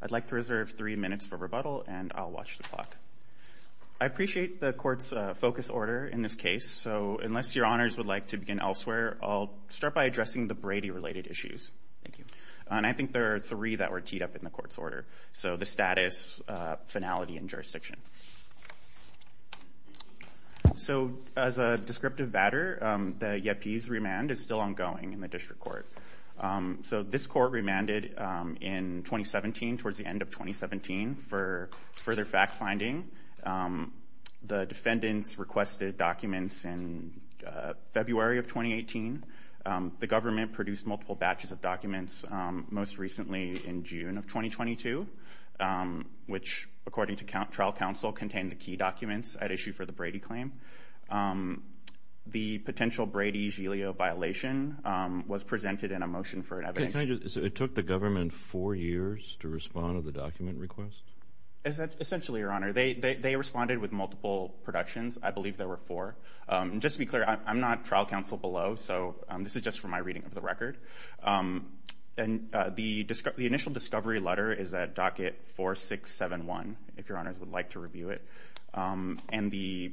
I'd like to reserve three minutes for rebuttal and I'll watch the clock. I appreciate the court's focus order in this case so unless your honors would like to begin elsewhere I'll start by addressing the Brady related issues. Thank you. And I think there are three that were teed up in the court's order. So the status, finality, and jurisdiction. So as a descriptive matter, the YEPI's remand is still ongoing in the district court. So this court remanded in 2017, towards the end of 2017, for further fact-finding. The defendants requested documents in February of 2018. The government produced multiple batches of documents most recently in June of 2022, which, according to trial counsel, contained the key documents at issue for the Brady claim. The potential Brady-Gilio violation was presented in a motion for an evidence. It took the government four years to respond to the document request? Essentially your honor, they responded with multiple productions. I believe there were four. Just to be clear, I'm not trial counsel below, so this is just from my reading of the document. The initial discovery letter is at docket 4671, if your honors would like to review it. And the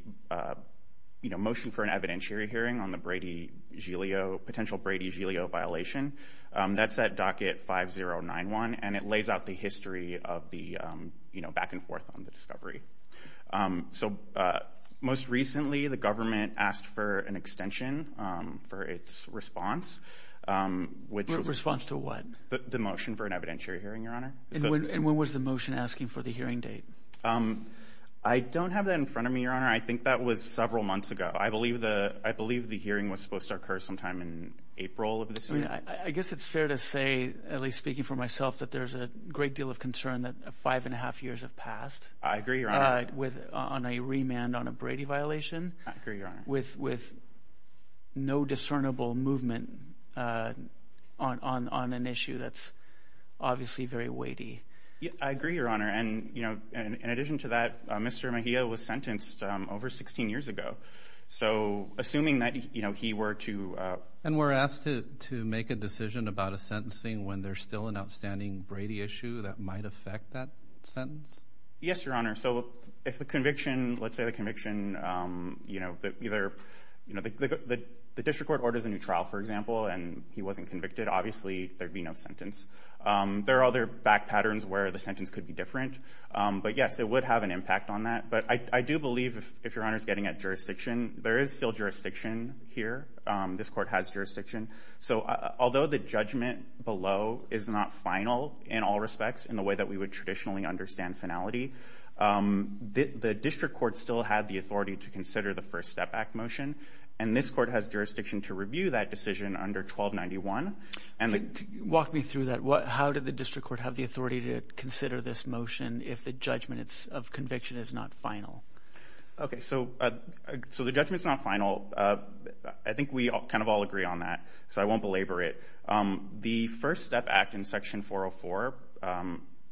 motion for an evidentiary hearing on the potential Brady-Gilio violation, that's at docket 5091, and it lays out the history of the back and forth on the discovery. So most recently, the government asked for an extension for its response. Response to what? The motion for an evidentiary hearing, your honor. And when was the motion asking for the hearing date? I don't have that in front of me, your honor. I think that was several months ago. I believe the hearing was supposed to occur sometime in April of this year. I guess it's fair to say, at least speaking for myself, that there's a deal of concern that five and a half years have passed. I agree, your honor. On a remand on a Brady violation. I agree, your honor. With no discernible movement on an issue that's obviously very weighty. I agree, your honor. And in addition to that, Mr. Mejia was sentenced over 16 years ago. So assuming that he were to... And were asked to make a decision about a sentencing when there's still an outstanding Brady issue that might affect that sentence? Yes, your honor. So if the conviction, let's say the conviction, you know, either, you know, the district court orders a new trial, for example, and he wasn't convicted, obviously there'd be no sentence. There are other back patterns where the sentence could be different. But yes, it would have an impact on that. But I do believe, if your honor is getting at jurisdiction, there is still jurisdiction here. This court has jurisdiction. So although the judgment below is not final in all respects, in the way that we would traditionally understand finality, the district court still had the authority to consider the First Step Act motion. And this court has jurisdiction to review that decision under 1291. Walk me through that. How did the district court have the authority to consider this motion if the judgment of conviction is not final? Okay, so the judgment's not final. I think we kind of all agree on that, so I won't belabor it. The First Step Act in Section 404,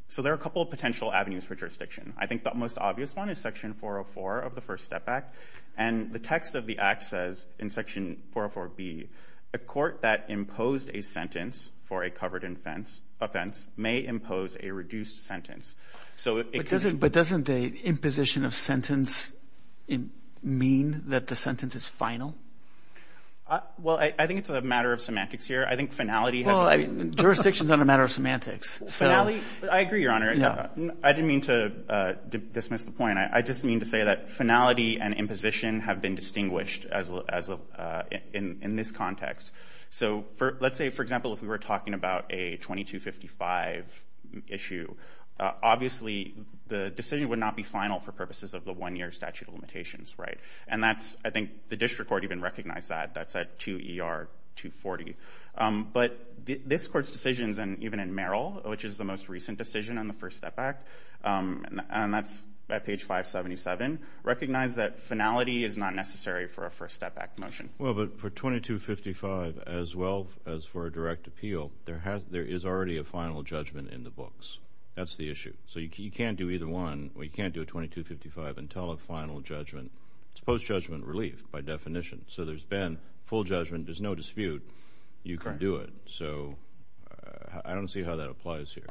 so there are a couple of potential avenues for jurisdiction. I think the most obvious one is Section 404 of the First Step Act. And the text of the act says, in Section 404B, a court that imposed a sentence for a covered offense may impose a reduced sentence. But doesn't the imposition of sentence mean that the sentence is final? Well, I think it's a matter of semantics here. I think finality has... Well, jurisdiction's not a matter of semantics, so... I agree, your honor. I didn't mean to dismiss the point. I just mean to say that finality and imposition have been distinguished in this context. So let's say, for example, if we were talking about a 2255 issue, obviously the decision would not be final for purposes of the one-year statute of limitations, right? And that's... I think the district court even recognized that. That's at 2ER 240. But this court's decisions, and even in Merrill, which is the most recent decision on the First Step Act, and that's at page 577, recognize that finality is not necessary for a First Step Act motion. Well, but for 2255 as well as for a direct appeal, there is already a final judgment in the books. That's the issue. So you can't do either one, or you can't do a 2255 until a final judgment. It's post-judgment relief by definition. So there's been full judgment. There's no dispute. You can do it. So I don't see how that applies here.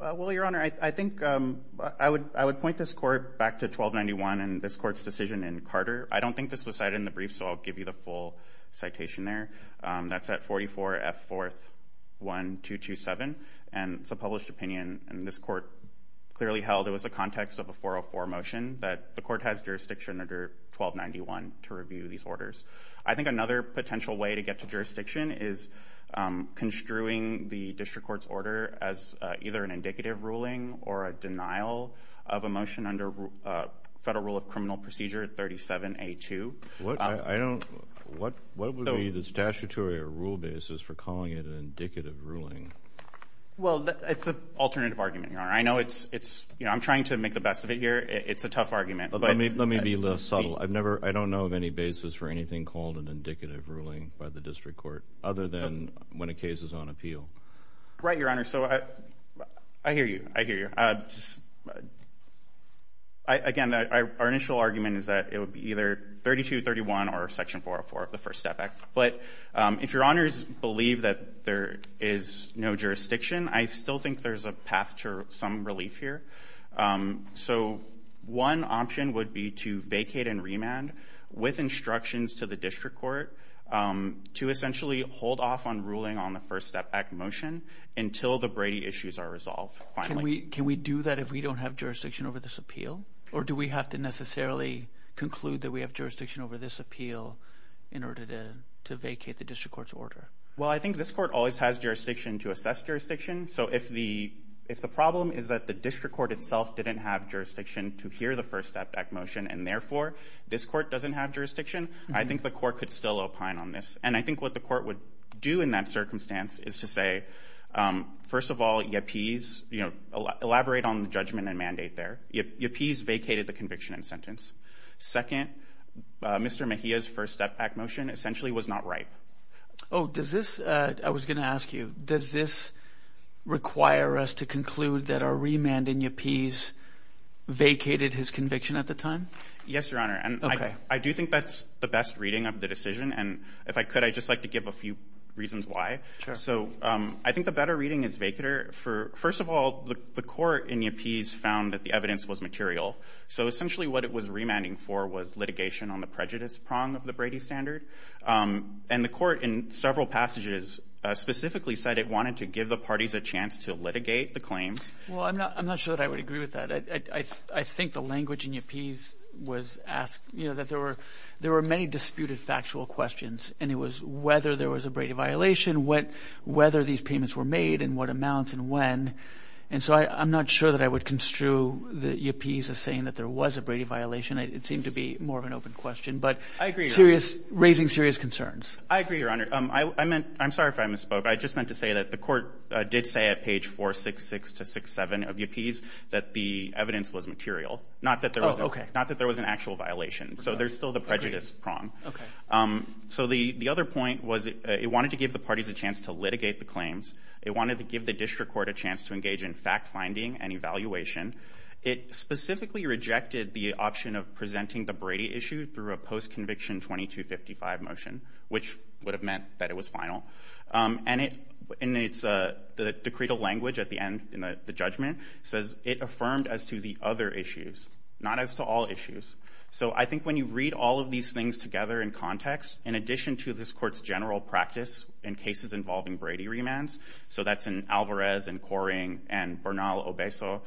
Well, your honor, I think I would point this court back to 1291 and this court's decision in Carter. I don't think this was cited in the brief, so I'll give you the full citation there. That's at 44F 4th 1227. And it's a published opinion, and this court clearly held it was the context of a 404 motion that the court has jurisdiction under 1291 to review these orders. I think another potential way to get to jurisdiction is construing the district court's order as either an indicative ruling or a denial of a motion under Federal Rule of Criminal Procedure 37A2. What would be the statutory or rule basis for calling it an indicative ruling? Well, it's an alternative argument, your honor. I'm trying to make the best of it here. It's a tough argument. Let me be less subtle. I don't know of any basis for anything called an indicative ruling by the district court other than when a case is on appeal. Right, your honor. So I hear you. I hear you. Again, our initial argument is that it would be either 3231 or Section 404 of the First Step Act. But if your honors believe that there is no jurisdiction, I still think there's a path to some relief here. So one option would be to vacate and remand with instructions to the district court to essentially hold off on ruling on the First Step Act motion until the Brady issues are resolved. Can we do that if we don't have jurisdiction over this appeal? Or do we have to necessarily conclude that we have jurisdiction over this appeal in order to vacate the district court's order? Well, I think this court always has jurisdiction to assess jurisdiction. So if the problem is that the district court itself didn't have jurisdiction to hear the First Step Act motion, and therefore this court doesn't have jurisdiction, I think the court could still opine on this. And I think what the court would do in that circumstance is to say, first of all, yippees, elaborate on the judgment and mandate there. Yippees vacated the conviction and sentence. Second, Mr. Mejia's First Step Act motion essentially was not right. Oh, does this, I was going to ask you, does this require us to And I do think that's the best reading of the decision. And if I could, I'd just like to give a few reasons why. So I think the better reading is vacater. First of all, the court in yippees found that the evidence was material. So essentially what it was remanding for was litigation on the prejudice prong of the Brady standard. And the court in several passages specifically said it wanted to give the parties a chance to litigate the claims. Well, I'm not sure that I would agree with that. I think the language in yippees was asked, you know, that there were many disputed factual questions. And it was whether there was a Brady violation, whether these payments were made and what amounts and when. And so I'm not sure that I would construe the yippees as saying that there was a Brady violation. It seemed to be more of an open question, but serious, raising serious concerns. I agree, Your Honor. I meant, I'm sorry if I misspoke. I just meant to say that the court did say at page 466 to 67 of yippees that the evidence was material, not that there was an actual violation. So there's still the prejudice prong. So the other point was it wanted to give the parties a chance to litigate the claims. It wanted to give the district court a chance to engage in fact finding and evaluation. It specifically rejected the option of presenting the Brady issue through a post-conviction 2255 motion, which would have meant that it was final. And it, in its decretal language at the end in the judgment, says it affirmed as to the other issues, not as to all issues. So I think when you read all of these things together in context, in addition to this court's general practice in cases involving Brady remands, so that's in Alvarez and Coring and Bernal-Obeso,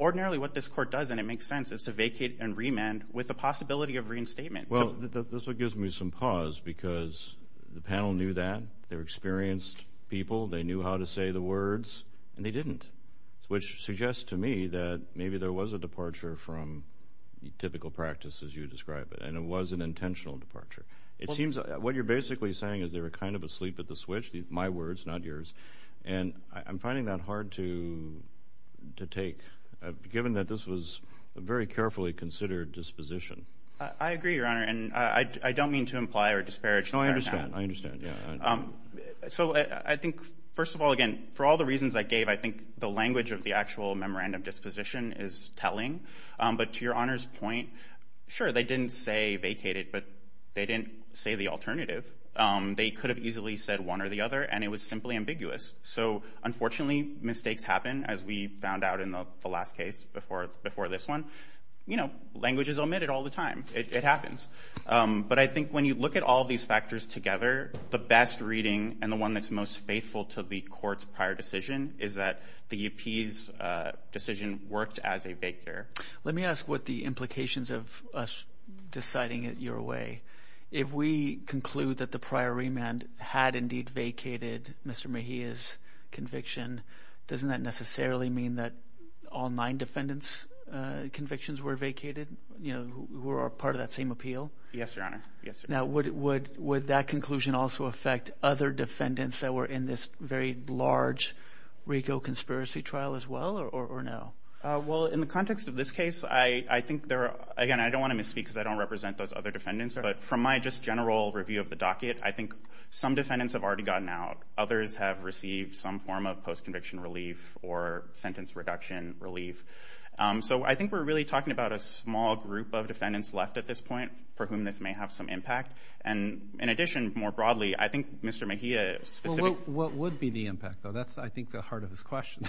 ordinarily what this court does, and it makes sense, is to vacate and remand with the possibility of reinstatement. Well, this gives me some pause because the panel knew that, they're experienced people, they knew how to say the words, and they didn't. Which suggests to me that maybe there was a departure from the typical practice as you describe it, and it was an intentional departure. It seems what you're basically saying is they were kind of asleep at the switch, my words not yours, and I'm finding that hard to to take given that this was a very carefully considered disposition. I agree, Your Honor, and I don't mean to imply or disparage. No, I understand, I understand. So I think, first of all, again, for all the reasons I gave, I think the language of the actual memorandum disposition is telling. But to Your Honor's point, sure, they didn't say vacated, but they didn't say the alternative. They could have easily said one or the other, and it was simply ambiguous. So unfortunately, mistakes happen, as we found out in the last case before this one. You know, language is omitted all the time. It happens. But I think when you look at all these factors together, the best reading and the one that's most faithful to the court's prior decision is that the UP's decision worked as a vacater. Let me ask what the implications of us deciding it your way. If we conclude that the prior remand had indeed vacated Mr. Mejia's conviction, doesn't that necessarily mean that all nine defendants' convictions were vacated, you know, who are part of that same appeal? Yes, Your Honor. Yes. Now, would that conclusion also affect other defendants that were in this very large RICO conspiracy trial as well, or no? Well, in the context of this case, I think there are, again, I don't want to misspeak because I don't represent those other defendants, but from my just general review of the docket, I think some defendants have already gotten out. Others have received some form of post-conviction relief or sentence reduction relief. So I think we're really talking about a small group of defendants left at this point for whom this may have some impact. And in addition, more broadly, I think Mr. Mejia... Well, what would be the impact, though? That's, I think, the heart of this question.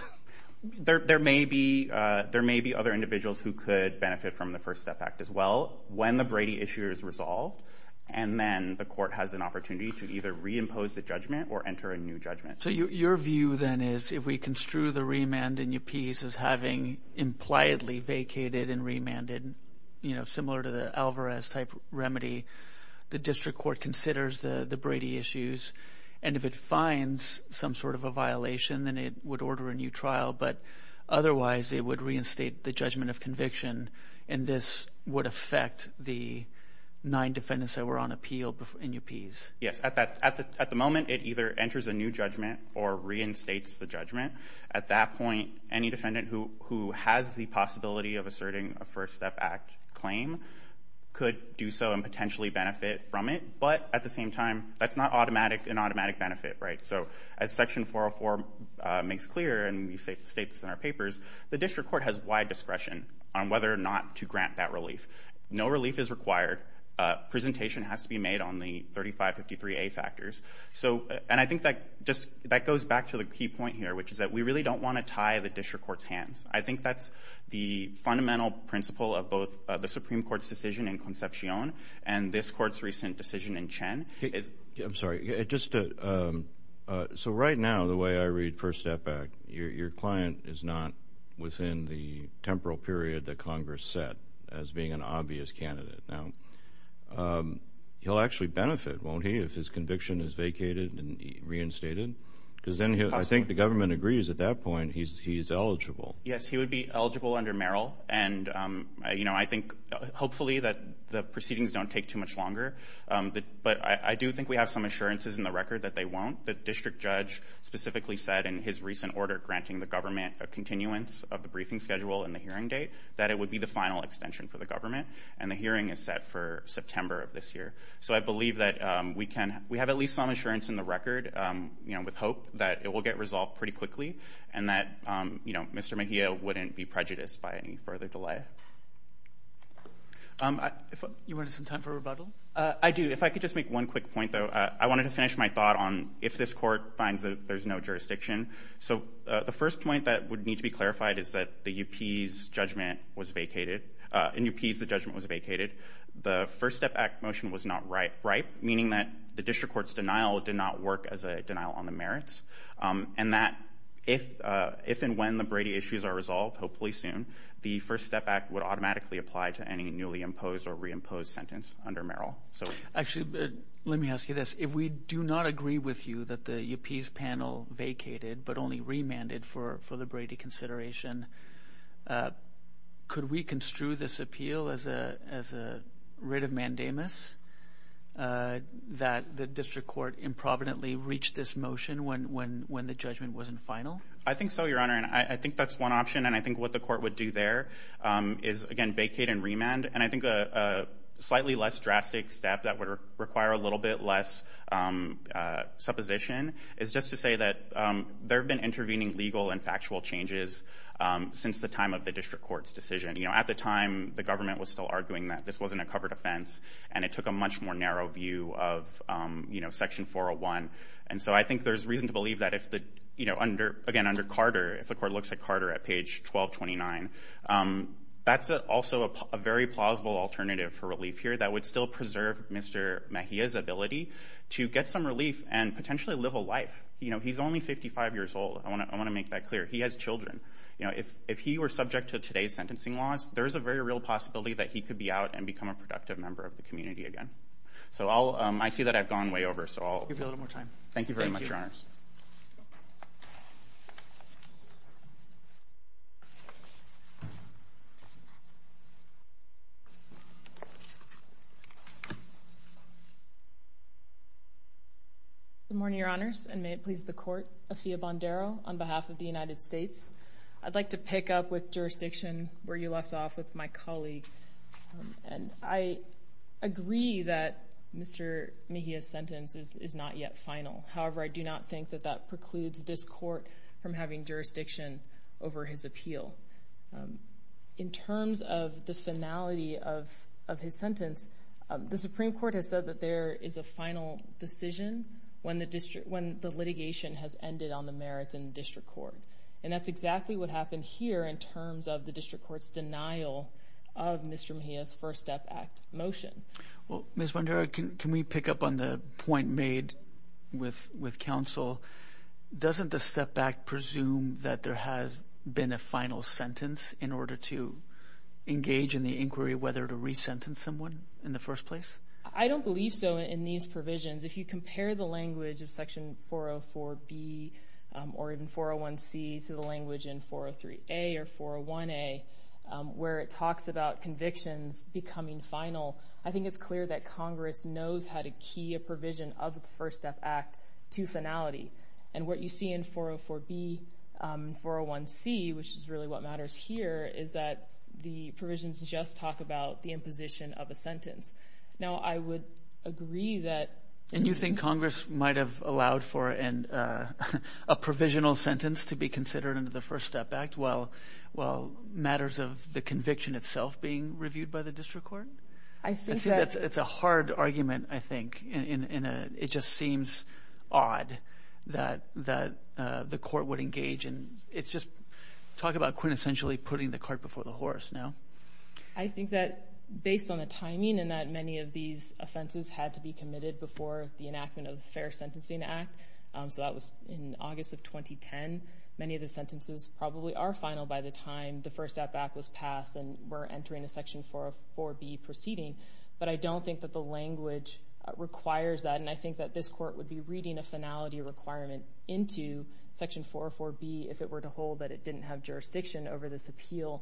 There may be other individuals who could benefit from the First Step Act as well when the Brady issue is resolved, and then the court has an opportunity to either reimpose the judgment or enter a new judgment. So your view, then, is if we construe the remand in your piece as having impliedly vacated and remanded, you know, similar to the Alvarez-type remedy, the district court considers the Brady issues, and if it finds some sort of a violation, then it would order a new trial. But otherwise, it would reinstate the judgment of conviction, and this would affect the nine defendants that were on appeal in your piece. Yes. At the moment, it either enters a new judgment or reinstates the judgment. At that point, any defendant who has the possibility of asserting a First Step Act claim could do so and potentially benefit from it. But at the same time, that's not an automatic benefit, right? So as Section 404 makes clear, and we state this in our papers, the district court has wide discretion on whether or not to grant that relief. No relief is required. Presentation has to be made on the 3553A factors. And I think that just goes back to the key point here, which is that we really don't want to tie the district court's hands. I think that's the fundamental principle of both the Supreme Court's decision in Concepcion and this court's recent decision in Chen. I'm sorry. So right now, the way I read First Step Act, your client is not within the temporal period that Congress set as being an obvious candidate. Now, he'll actually benefit, won't he, if his conviction is vacated and reinstated? Because then I think the government agrees at that point he's eligible. Yes, he would be eligible under Merrill. And I think hopefully that the proceedings don't take too much longer. But I do think we have some assurances in the record that they won't. The district judge specifically said in his recent order granting the government a continuance of the briefing schedule and the hearing date that it would be the final extension for the government. And the hearing is set for September of this year. So I believe that we have at least some assurance in the record with hope that it will get resolved pretty quickly and that Mr. Mejia wouldn't be prejudiced by any further delay. You wanted some time for rebuttal? I do. If I could make one quick point, though. I wanted to finish my thought on if this court finds that there's no jurisdiction. So the first point that would need to be clarified is that the UP's judgment was vacated. In UP's, the judgment was vacated. The First Step Act motion was not ripe, meaning that the district court's denial did not work as a denial on the merits. And that if and when the Brady issues are resolved, hopefully soon, the First Step Act would automatically apply to any Let me ask you this. If we do not agree with you that the UP's panel vacated but only remanded for the Brady consideration, could we construe this appeal as a writ of mandamus that the district court improvidently reached this motion when the judgment wasn't final? I think so, Your Honor. And I think that's one option. And I think what the court would do there is again vacate and remand. And I think a slightly less drastic step that would require a little bit less supposition is just to say that there have been intervening legal and factual changes since the time of the district court's decision. At the time, the government was still arguing that this wasn't a covered offense and it took a much more narrow view of Section 401. And so I think there's reason to believe that under Carter, if the court looks at Carter at page 1229, that's also a very plausible alternative for relief here that would still preserve Mr. Mejia's ability to get some relief and potentially live a life. He's only 55 years old. I want to make that clear. He has children. If he were subject to today's sentencing laws, there's a very real possibility that he could be out and become a productive member of the community again. I see that I've gone way over. I'll give you a little more time. Thank you very much, Your Honors. Good morning, Your Honors, and may it please the court. Afiya Bondaro on behalf of the United States. I'd like to pick up with jurisdiction where you left off with my colleague. And I is not yet final. However, I do not think that that precludes this court from having jurisdiction over his appeal. In terms of the finality of his sentence, the Supreme Court has said that there is a final decision when the litigation has ended on the merits in the district court. And that's exactly what happened here in terms of the district court's denial of Mr. Mejia's First Step Act motion. Well, Ms. Bondaro, can we pick up on the point made with counsel? Doesn't the Step Act presume that there has been a final sentence in order to engage in the inquiry whether to re-sentence someone in the first place? I don't believe so in these provisions. If you compare the language of Section 404B or even 401C to the language in 403A or 401A, where it talks about convictions becoming final, I think it's clear that Congress knows how to key a provision of the First Step Act to finality. And what you see in 404B and 401C, which is really what matters here, is that the provisions just talk about the imposition of a sentence. Now, I would agree that... And you think Congress might have allowed for a provisional sentence to be considered under the First Step Act while matters of the conviction itself being reviewed by the district court? I think that... It's a hard argument, I think. And it just seems odd that the court would engage in... It's just... Talk about quintessentially putting the cart before the horse now. I think that based on the timing and that many of these offenses had to be committed before the enactment of the Fair Sentencing Act, so that was in August of 2010, many of the sentences probably are final by the time the First Step Act was passed and we're entering a Section 404B proceeding. But I don't think that the language requires that. And I think that this court would be reading a finality requirement into Section 404B if it were to hold that it didn't have jurisdiction over this appeal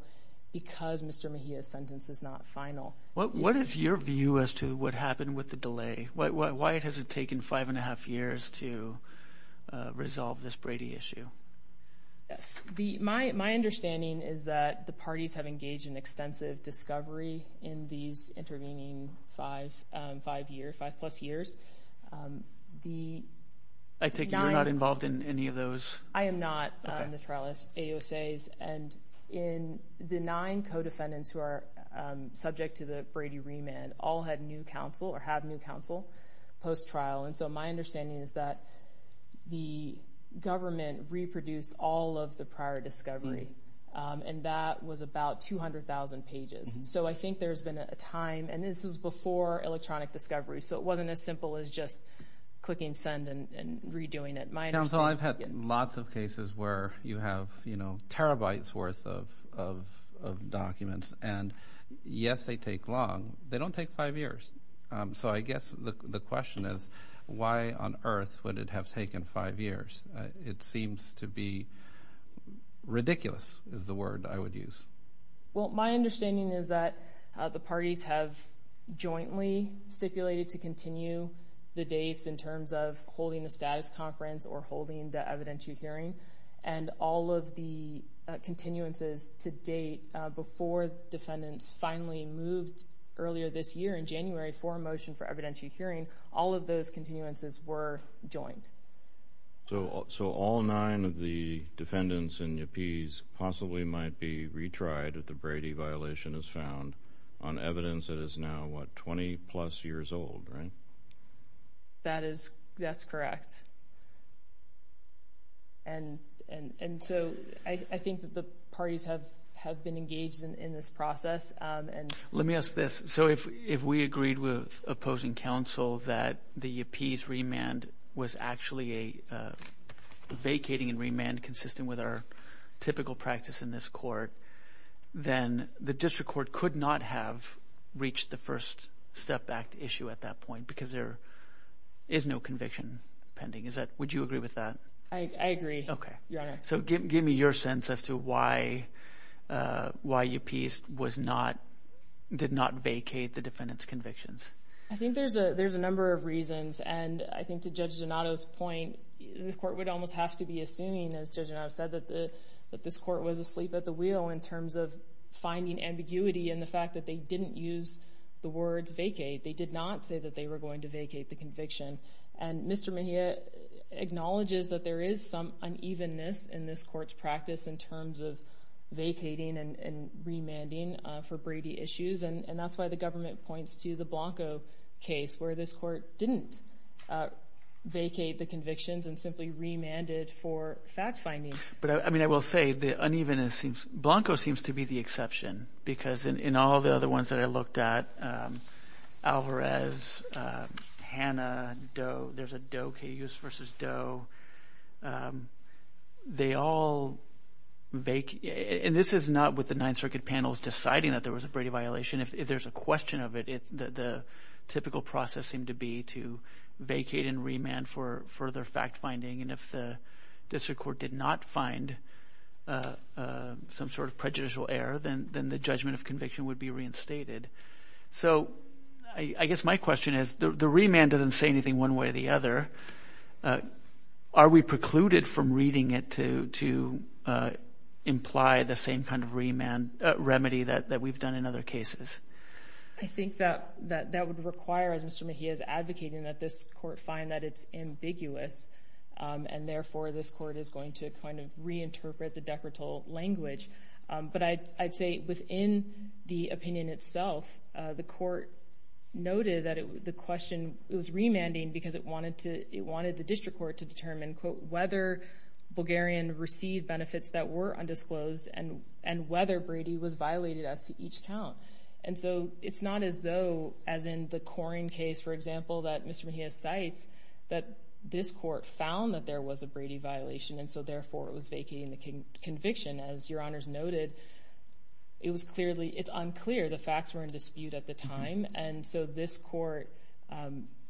because Mr. Mejia's sentence is not final. What is your view as to what happened with the delay? Why has it taken five and a half years to resolve this Brady issue? Yes. My understanding is that the parties have engaged in extensive discovery in these intervening five plus years. I take it you're not involved in any of those? I am not. The trial is AUSA's. And the nine co-defendants who are subject to the Brady remand all had new counsel or have new counsel post-trial. And so my understanding is that the government reproduced all of the prior discovery and that was about 200,000 pages. So I think there's been a time, and this was before electronic discovery, so it wasn't as simple as just clicking send and redoing it. Counsel, I've had lots of cases where you have terabytes worth of documents. And yes, they take long. They don't take five years. So I guess the question is why on earth would it have taken five years? It seems to be ridiculous is the word I would use. Well, my understanding is that the parties have jointly stipulated to continue the dates in terms of holding a status conference or holding the evidentiary hearing. And all of the continuances to date before defendants finally moved earlier this year in January for a motion for evidentiary hearing, all of those continuances were joined. So all nine of the defendants and yuppies possibly might be retried if the Brady violation is found on evidence that is now, what, 20-plus years old, right? That is, that's correct. And so I think that the parties have been engaged in this process. Let me ask this. So if we agreed with opposing counsel that the yuppies remand was actually a vacating and remand consistent with our typical practice in this court, then the district court could not have reached the first step back to issue at that point, because there is no conviction pending. Would you agree with that? I agree, Your Honor. So give me your sense as to why yuppies did not vacate the defendant's convictions. I think there's a number of reasons. And I think to Judge Donato's point, the court would almost have to be assuming, as Judge Donato said, that this court was asleep at the wheel in terms of finding ambiguity in the fact that they didn't use the words vacate. They did not say that they were going to vacate the conviction. And Mr. Mejia acknowledges that there is some unevenness in this court's practice in terms of vacating and remanding for Brady issues. And that's why the government points to the Blanco case where this court didn't vacate the convictions and simply remanded for fact finding. But I mean, I will say the unevenness seems, Blanco seems to be the exception, because in all the other ones that I looked at, Alvarez, Hanna, Doe, there's a Doe case versus Doe. They all vacate. And this is not what the Ninth Circuit panel is deciding that there was a Brady violation. If there's a question of it, the typical process seemed to be to vacate and remand for further fact finding. And if the district court did not find some sort of prejudicial error, then the judgment of conviction would be reinstated. So I guess my question is, the remand doesn't say anything one way or the other. Are we precluded from reading it to imply the same kind of remedy that we've done in other cases? I think that would require, as Mr. Mejia is advocating, that this court find that it's ambiguous. And therefore, this court is going to kind of reinterpret the Decretal language. But I'd say within the opinion itself, the court noted that the question, it was remanding because it wanted the district court to determine, quote, whether Bulgarian received benefits that were undisclosed and whether Brady was violated as to each count. And so it's not as though, as in the Koren case, for example, that Mr. Mejia cites, that this court found that there was a Brady violation. And so therefore, it was vacating the conviction, as Your Honors noted. It was clearly, it's unclear. The facts were in dispute at the time. And so this court,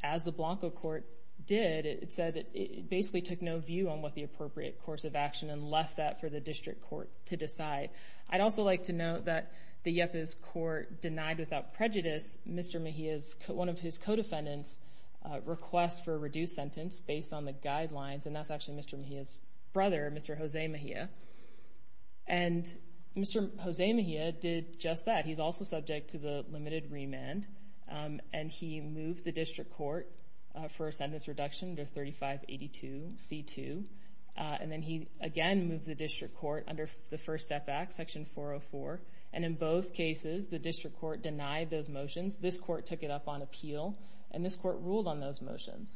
as the Blanco court did, it said it basically took no view on what the appropriate course of action and left that for the district court to decide. I'd also like to note that the YEPA's court denied without prejudice Mr. Mejia's, one of his co-defendants' request for a reduced sentence based on the guidelines. And that's actually Mr. Mejia's brother, Mr. Jose Mejia. And Mr. Jose Mejia did just that. He's also subject to the limited remand. And he moved the district court for a sentence reduction to 3582 C2. And then he again moved the district court under the First Step Act, Section 404. And in both cases, the district court denied those motions. This court took it up on appeal. And this court ruled on those motions.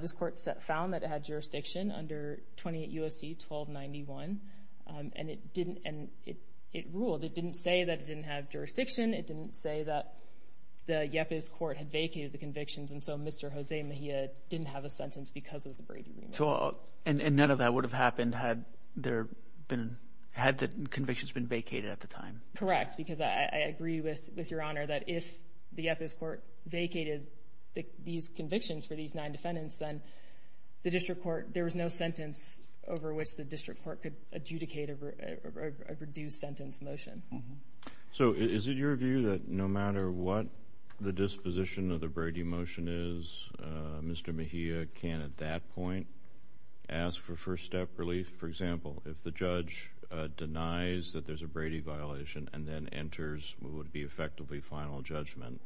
This court found that it had jurisdiction under 28 U.S.C. 1291. And it ruled. It didn't say that it didn't have jurisdiction. It didn't say that the YEPA's court had vacated the convictions. And so Mr. Jose Mejia didn't have a sentence because of the Brady remand. And none of that would have happened had the convictions been vacated at the time? Correct. Because I agree with Your Honor that if the YEPA's court vacated these convictions for these nine defendants, then the district court, there was no sentence over which the district court could adjudicate a reduced sentence motion. So is it your view that no matter what the disposition of the Brady motion is, Mr. Mejia can at that point ask for first step relief? For example, if the judge denies that there's a Brady violation and then enters what would be effectively final judgment,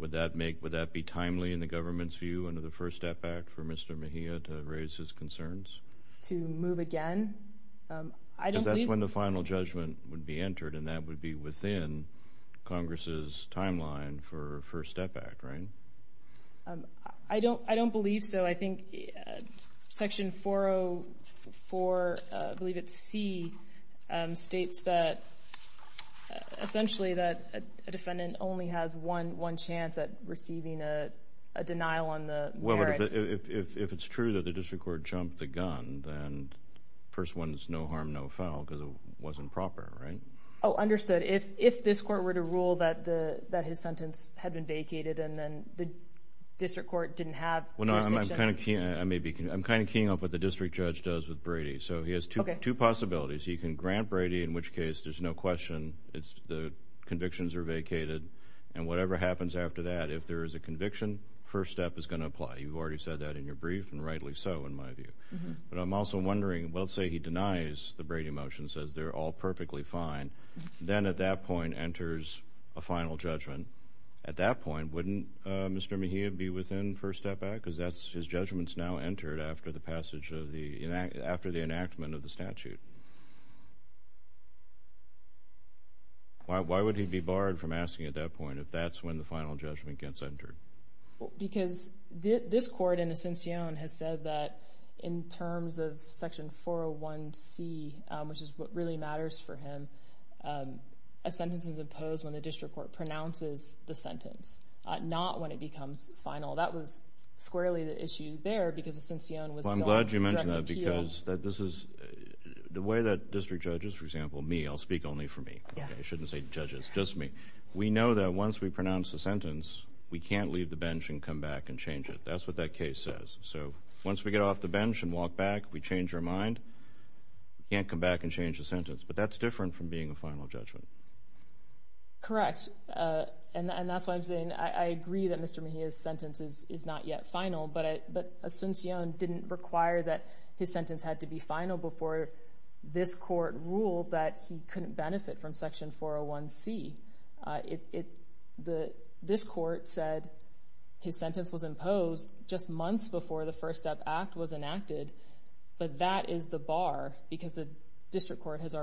would that be timely in the government's view under the First Step Act for Mr. Mejia to raise his concerns? To move again? Because that's when the final judgment would be entered and that would be within Congress's timeline for First Step Act, right? I don't know. If it's true that the district court jumped the gun, then first one's no harm, no foul, because it wasn't proper, right? Oh, understood. If this court were to rule that his sentence had been vacated and then the district court didn't have jurisdiction? I'm kind of keying off what the district judge does with Brady. So he has two possibilities. He can grant Brady, in which case there's no question, the convictions are vacated and whatever happens after that, if there is a conviction, first step is going to apply. You've already said that in your brief and rightly so in my view. But I'm also wondering, let's say he denies the Brady motion, says they're all perfectly fine, then at that point enters a final judgment. At that point, wouldn't Mr. Mejia be within First Step Act? Because his judgment's now entered after the enactment of the statute. Why would he be barred from asking at that point if that's when the final judgment gets entered? Because this court in Ascension has said that in terms of Section 401C, which is what really matters for him, a sentence is imposed when the district court pronounces the sentence, not when it becomes final. That was squarely the issue there because Ascension was still that this is the way that district judges, for example, me, I'll speak only for me. I shouldn't say judges, just me. We know that once we pronounce the sentence, we can't leave the bench and come back and change it. That's what that case says. So once we get off the bench and walk back, we change our mind, we can't come back and change the sentence. But that's different from being a final judgment. Correct. And that's why I'm saying I agree that Mr. Mejia's sentence is his sentence had to be final before this court ruled that he couldn't benefit from Section 401C. This court said his sentence was imposed just months before the First Step Act was enacted, but that is the bar because the district court had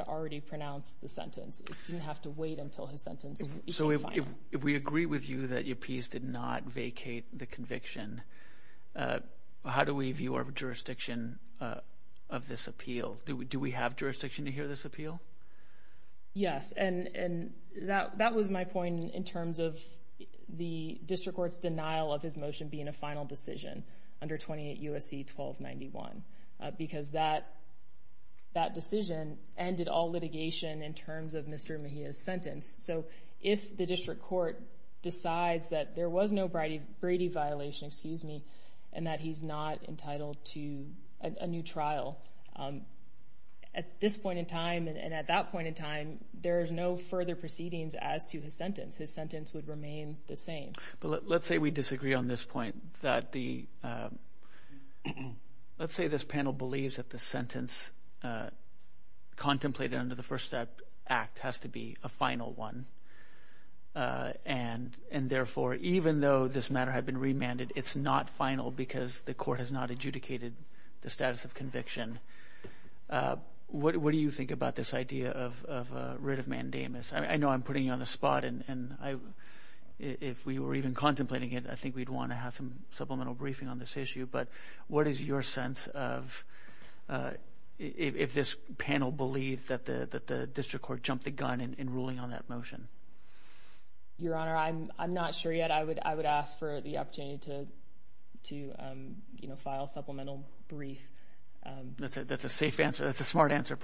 already pronounced the sentence. It didn't have to wait until his sentence became final. So if we agree with you that you appease did not jurisdiction of this appeal, do we have jurisdiction to hear this appeal? Yes. And that was my point in terms of the district court's denial of his motion being a final decision under 28 U.S.C. 1291 because that decision ended all litigation in terms of Mr. Mejia's sentence. So if the district court decides that there was no Brady violation, and that he's not entitled to a new trial at this point in time and at that point in time, there is no further proceedings as to his sentence. His sentence would remain the same. But let's say we disagree on this point that the let's say this panel believes that the sentence contemplated under the First Step Act has to be a final one. And and therefore, even though this matter had been remanded, it's not final because the court has not adjudicated the status of conviction. What do you think about this idea of writ of mandamus? I know I'm putting you on the spot and I if we were even contemplating it, I think we'd want to have some supplemental briefing on this issue. But what is your sense of if this panel believe that the district court jumped the gun in ruling on that motion? Your Honor, I'm not sure yet. I would I would ask for the opportunity to to file supplemental brief. That's a safe answer. That's a smart answer.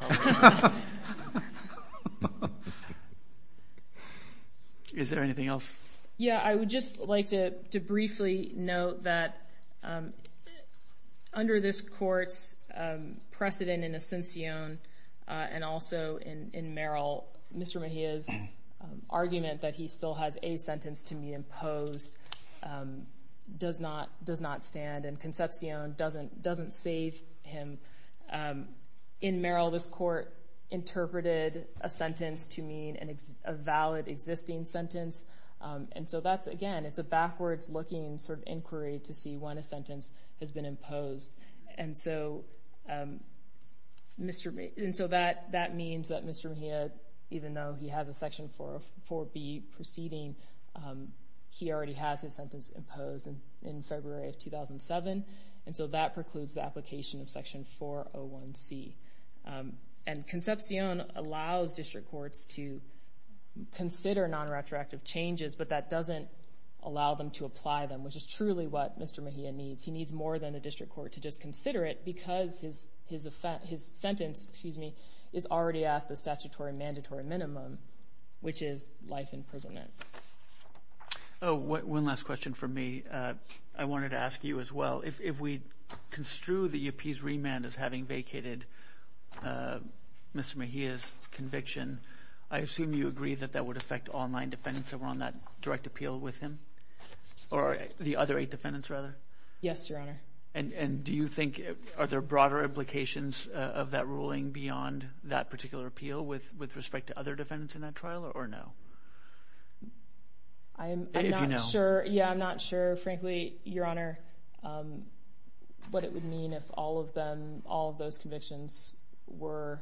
Is there anything else? Yeah, I would just like to briefly note that under this court's precedent in Ascension and also in Merrill, Mr. Mejia's argument that he still has a sentence to be imposed does not does not stand and Concepcion doesn't doesn't save him. In Merrill, this court interpreted a sentence to mean a valid existing sentence. And so that's again, it's a backwards looking sort of inquiry to see when a sentence has been imposed. And so Mr. Mejia, and so that that means that Mr. Mejia, even though he has a section 404B proceeding, he already has his sentence imposed in February of 2007. And so that precludes the application of section 401C. And Concepcion allows district courts to consider non-retroactive changes, but that doesn't allow them to apply them, which is truly what Mr. Mejia needs. He needs more than a district court to just consider it because his his offense, his sentence, excuse me, is already at the statutory mandatory minimum, which is life imprisonment. Oh, one last question for me. I wanted to ask you as well. If we construe the UP's remand as having vacated Mr. Mejia's conviction, I assume you agree that that would affect all nine defendants that were on that direct appeal with him? Or the other eight defendants rather? Yes, Your Honor. And do you think, are there broader implications of that ruling beyond that particular appeal with respect to other defendants in that trial or no? I'm not sure. Yeah, I'm not sure, frankly, Your Honor, what it would mean if all of them, all of those convictions were,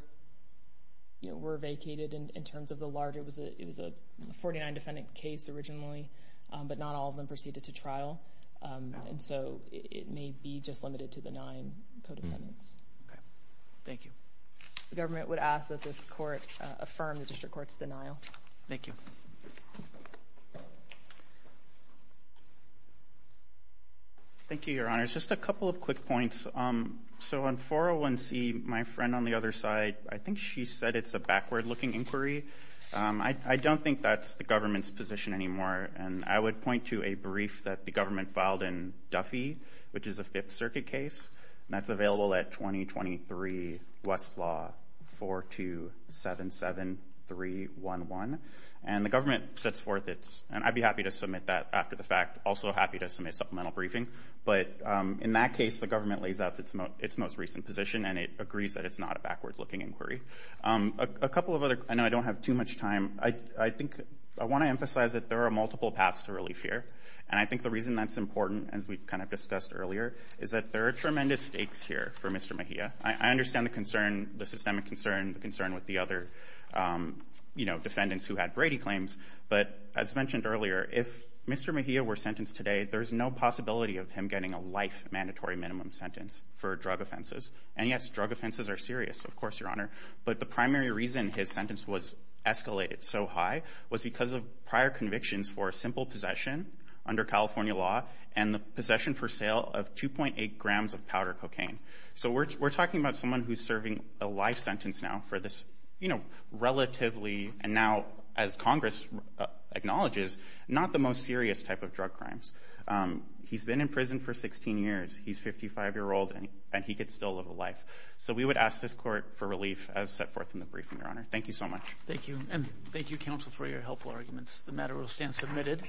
you know, were vacated in terms of the larger, it was a 49 defendant case originally, but not all of them proceeded to trial. And so it may be just limited to the nine co-defendants. Okay, thank you. The government would ask that this court affirm the district court's denial. Thank you. Thank you, Your Honor. Just a couple of quick points. So on 401C, my friend on the other side, I think she said it's a backward-looking inquiry. I don't think that's the government's position anymore. And I would point to a brief that the government filed in Duffy, which is a Fifth Circuit case, and that's available at 2023 Westlaw 4277311. And the government sets forth its, and I'd be happy to submit that after the fact, also happy to submit a supplemental briefing. But in that case, the government lays out its most recent position and it agrees that it's not a backwards-looking inquiry. A couple of other, I know I don't have too much time, I think I want to emphasize that there are multiple paths to relief here. And I think the reason that's important, as we've kind of discussed earlier, is that there are tremendous stakes here for Mr. Mejia. I understand the concern, the systemic concern, the concern with the other, you know, defendants who had Brady claims. But as mentioned earlier, if Mr. Mejia were sentenced today, there's no possibility of him getting a life mandatory minimum sentence for drug offenses. And yes, drug offenses are serious, of course, Your Honor. But the primary reason his sentence was escalated so high was because of prior convictions for simple possession under California law and the possession for sale of 2.8 grams of powder cocaine. So we're talking about someone who's serving a life sentence now for this, you know, the most serious type of drug crimes. He's been in prison for 16 years, he's 55 years old, and he could still live a life. So we would ask this court for relief as set forth in the briefing, Your Honor. Thank you so much. Thank you. And thank you, counsel, for your helpful arguments. The matter will stand submitted.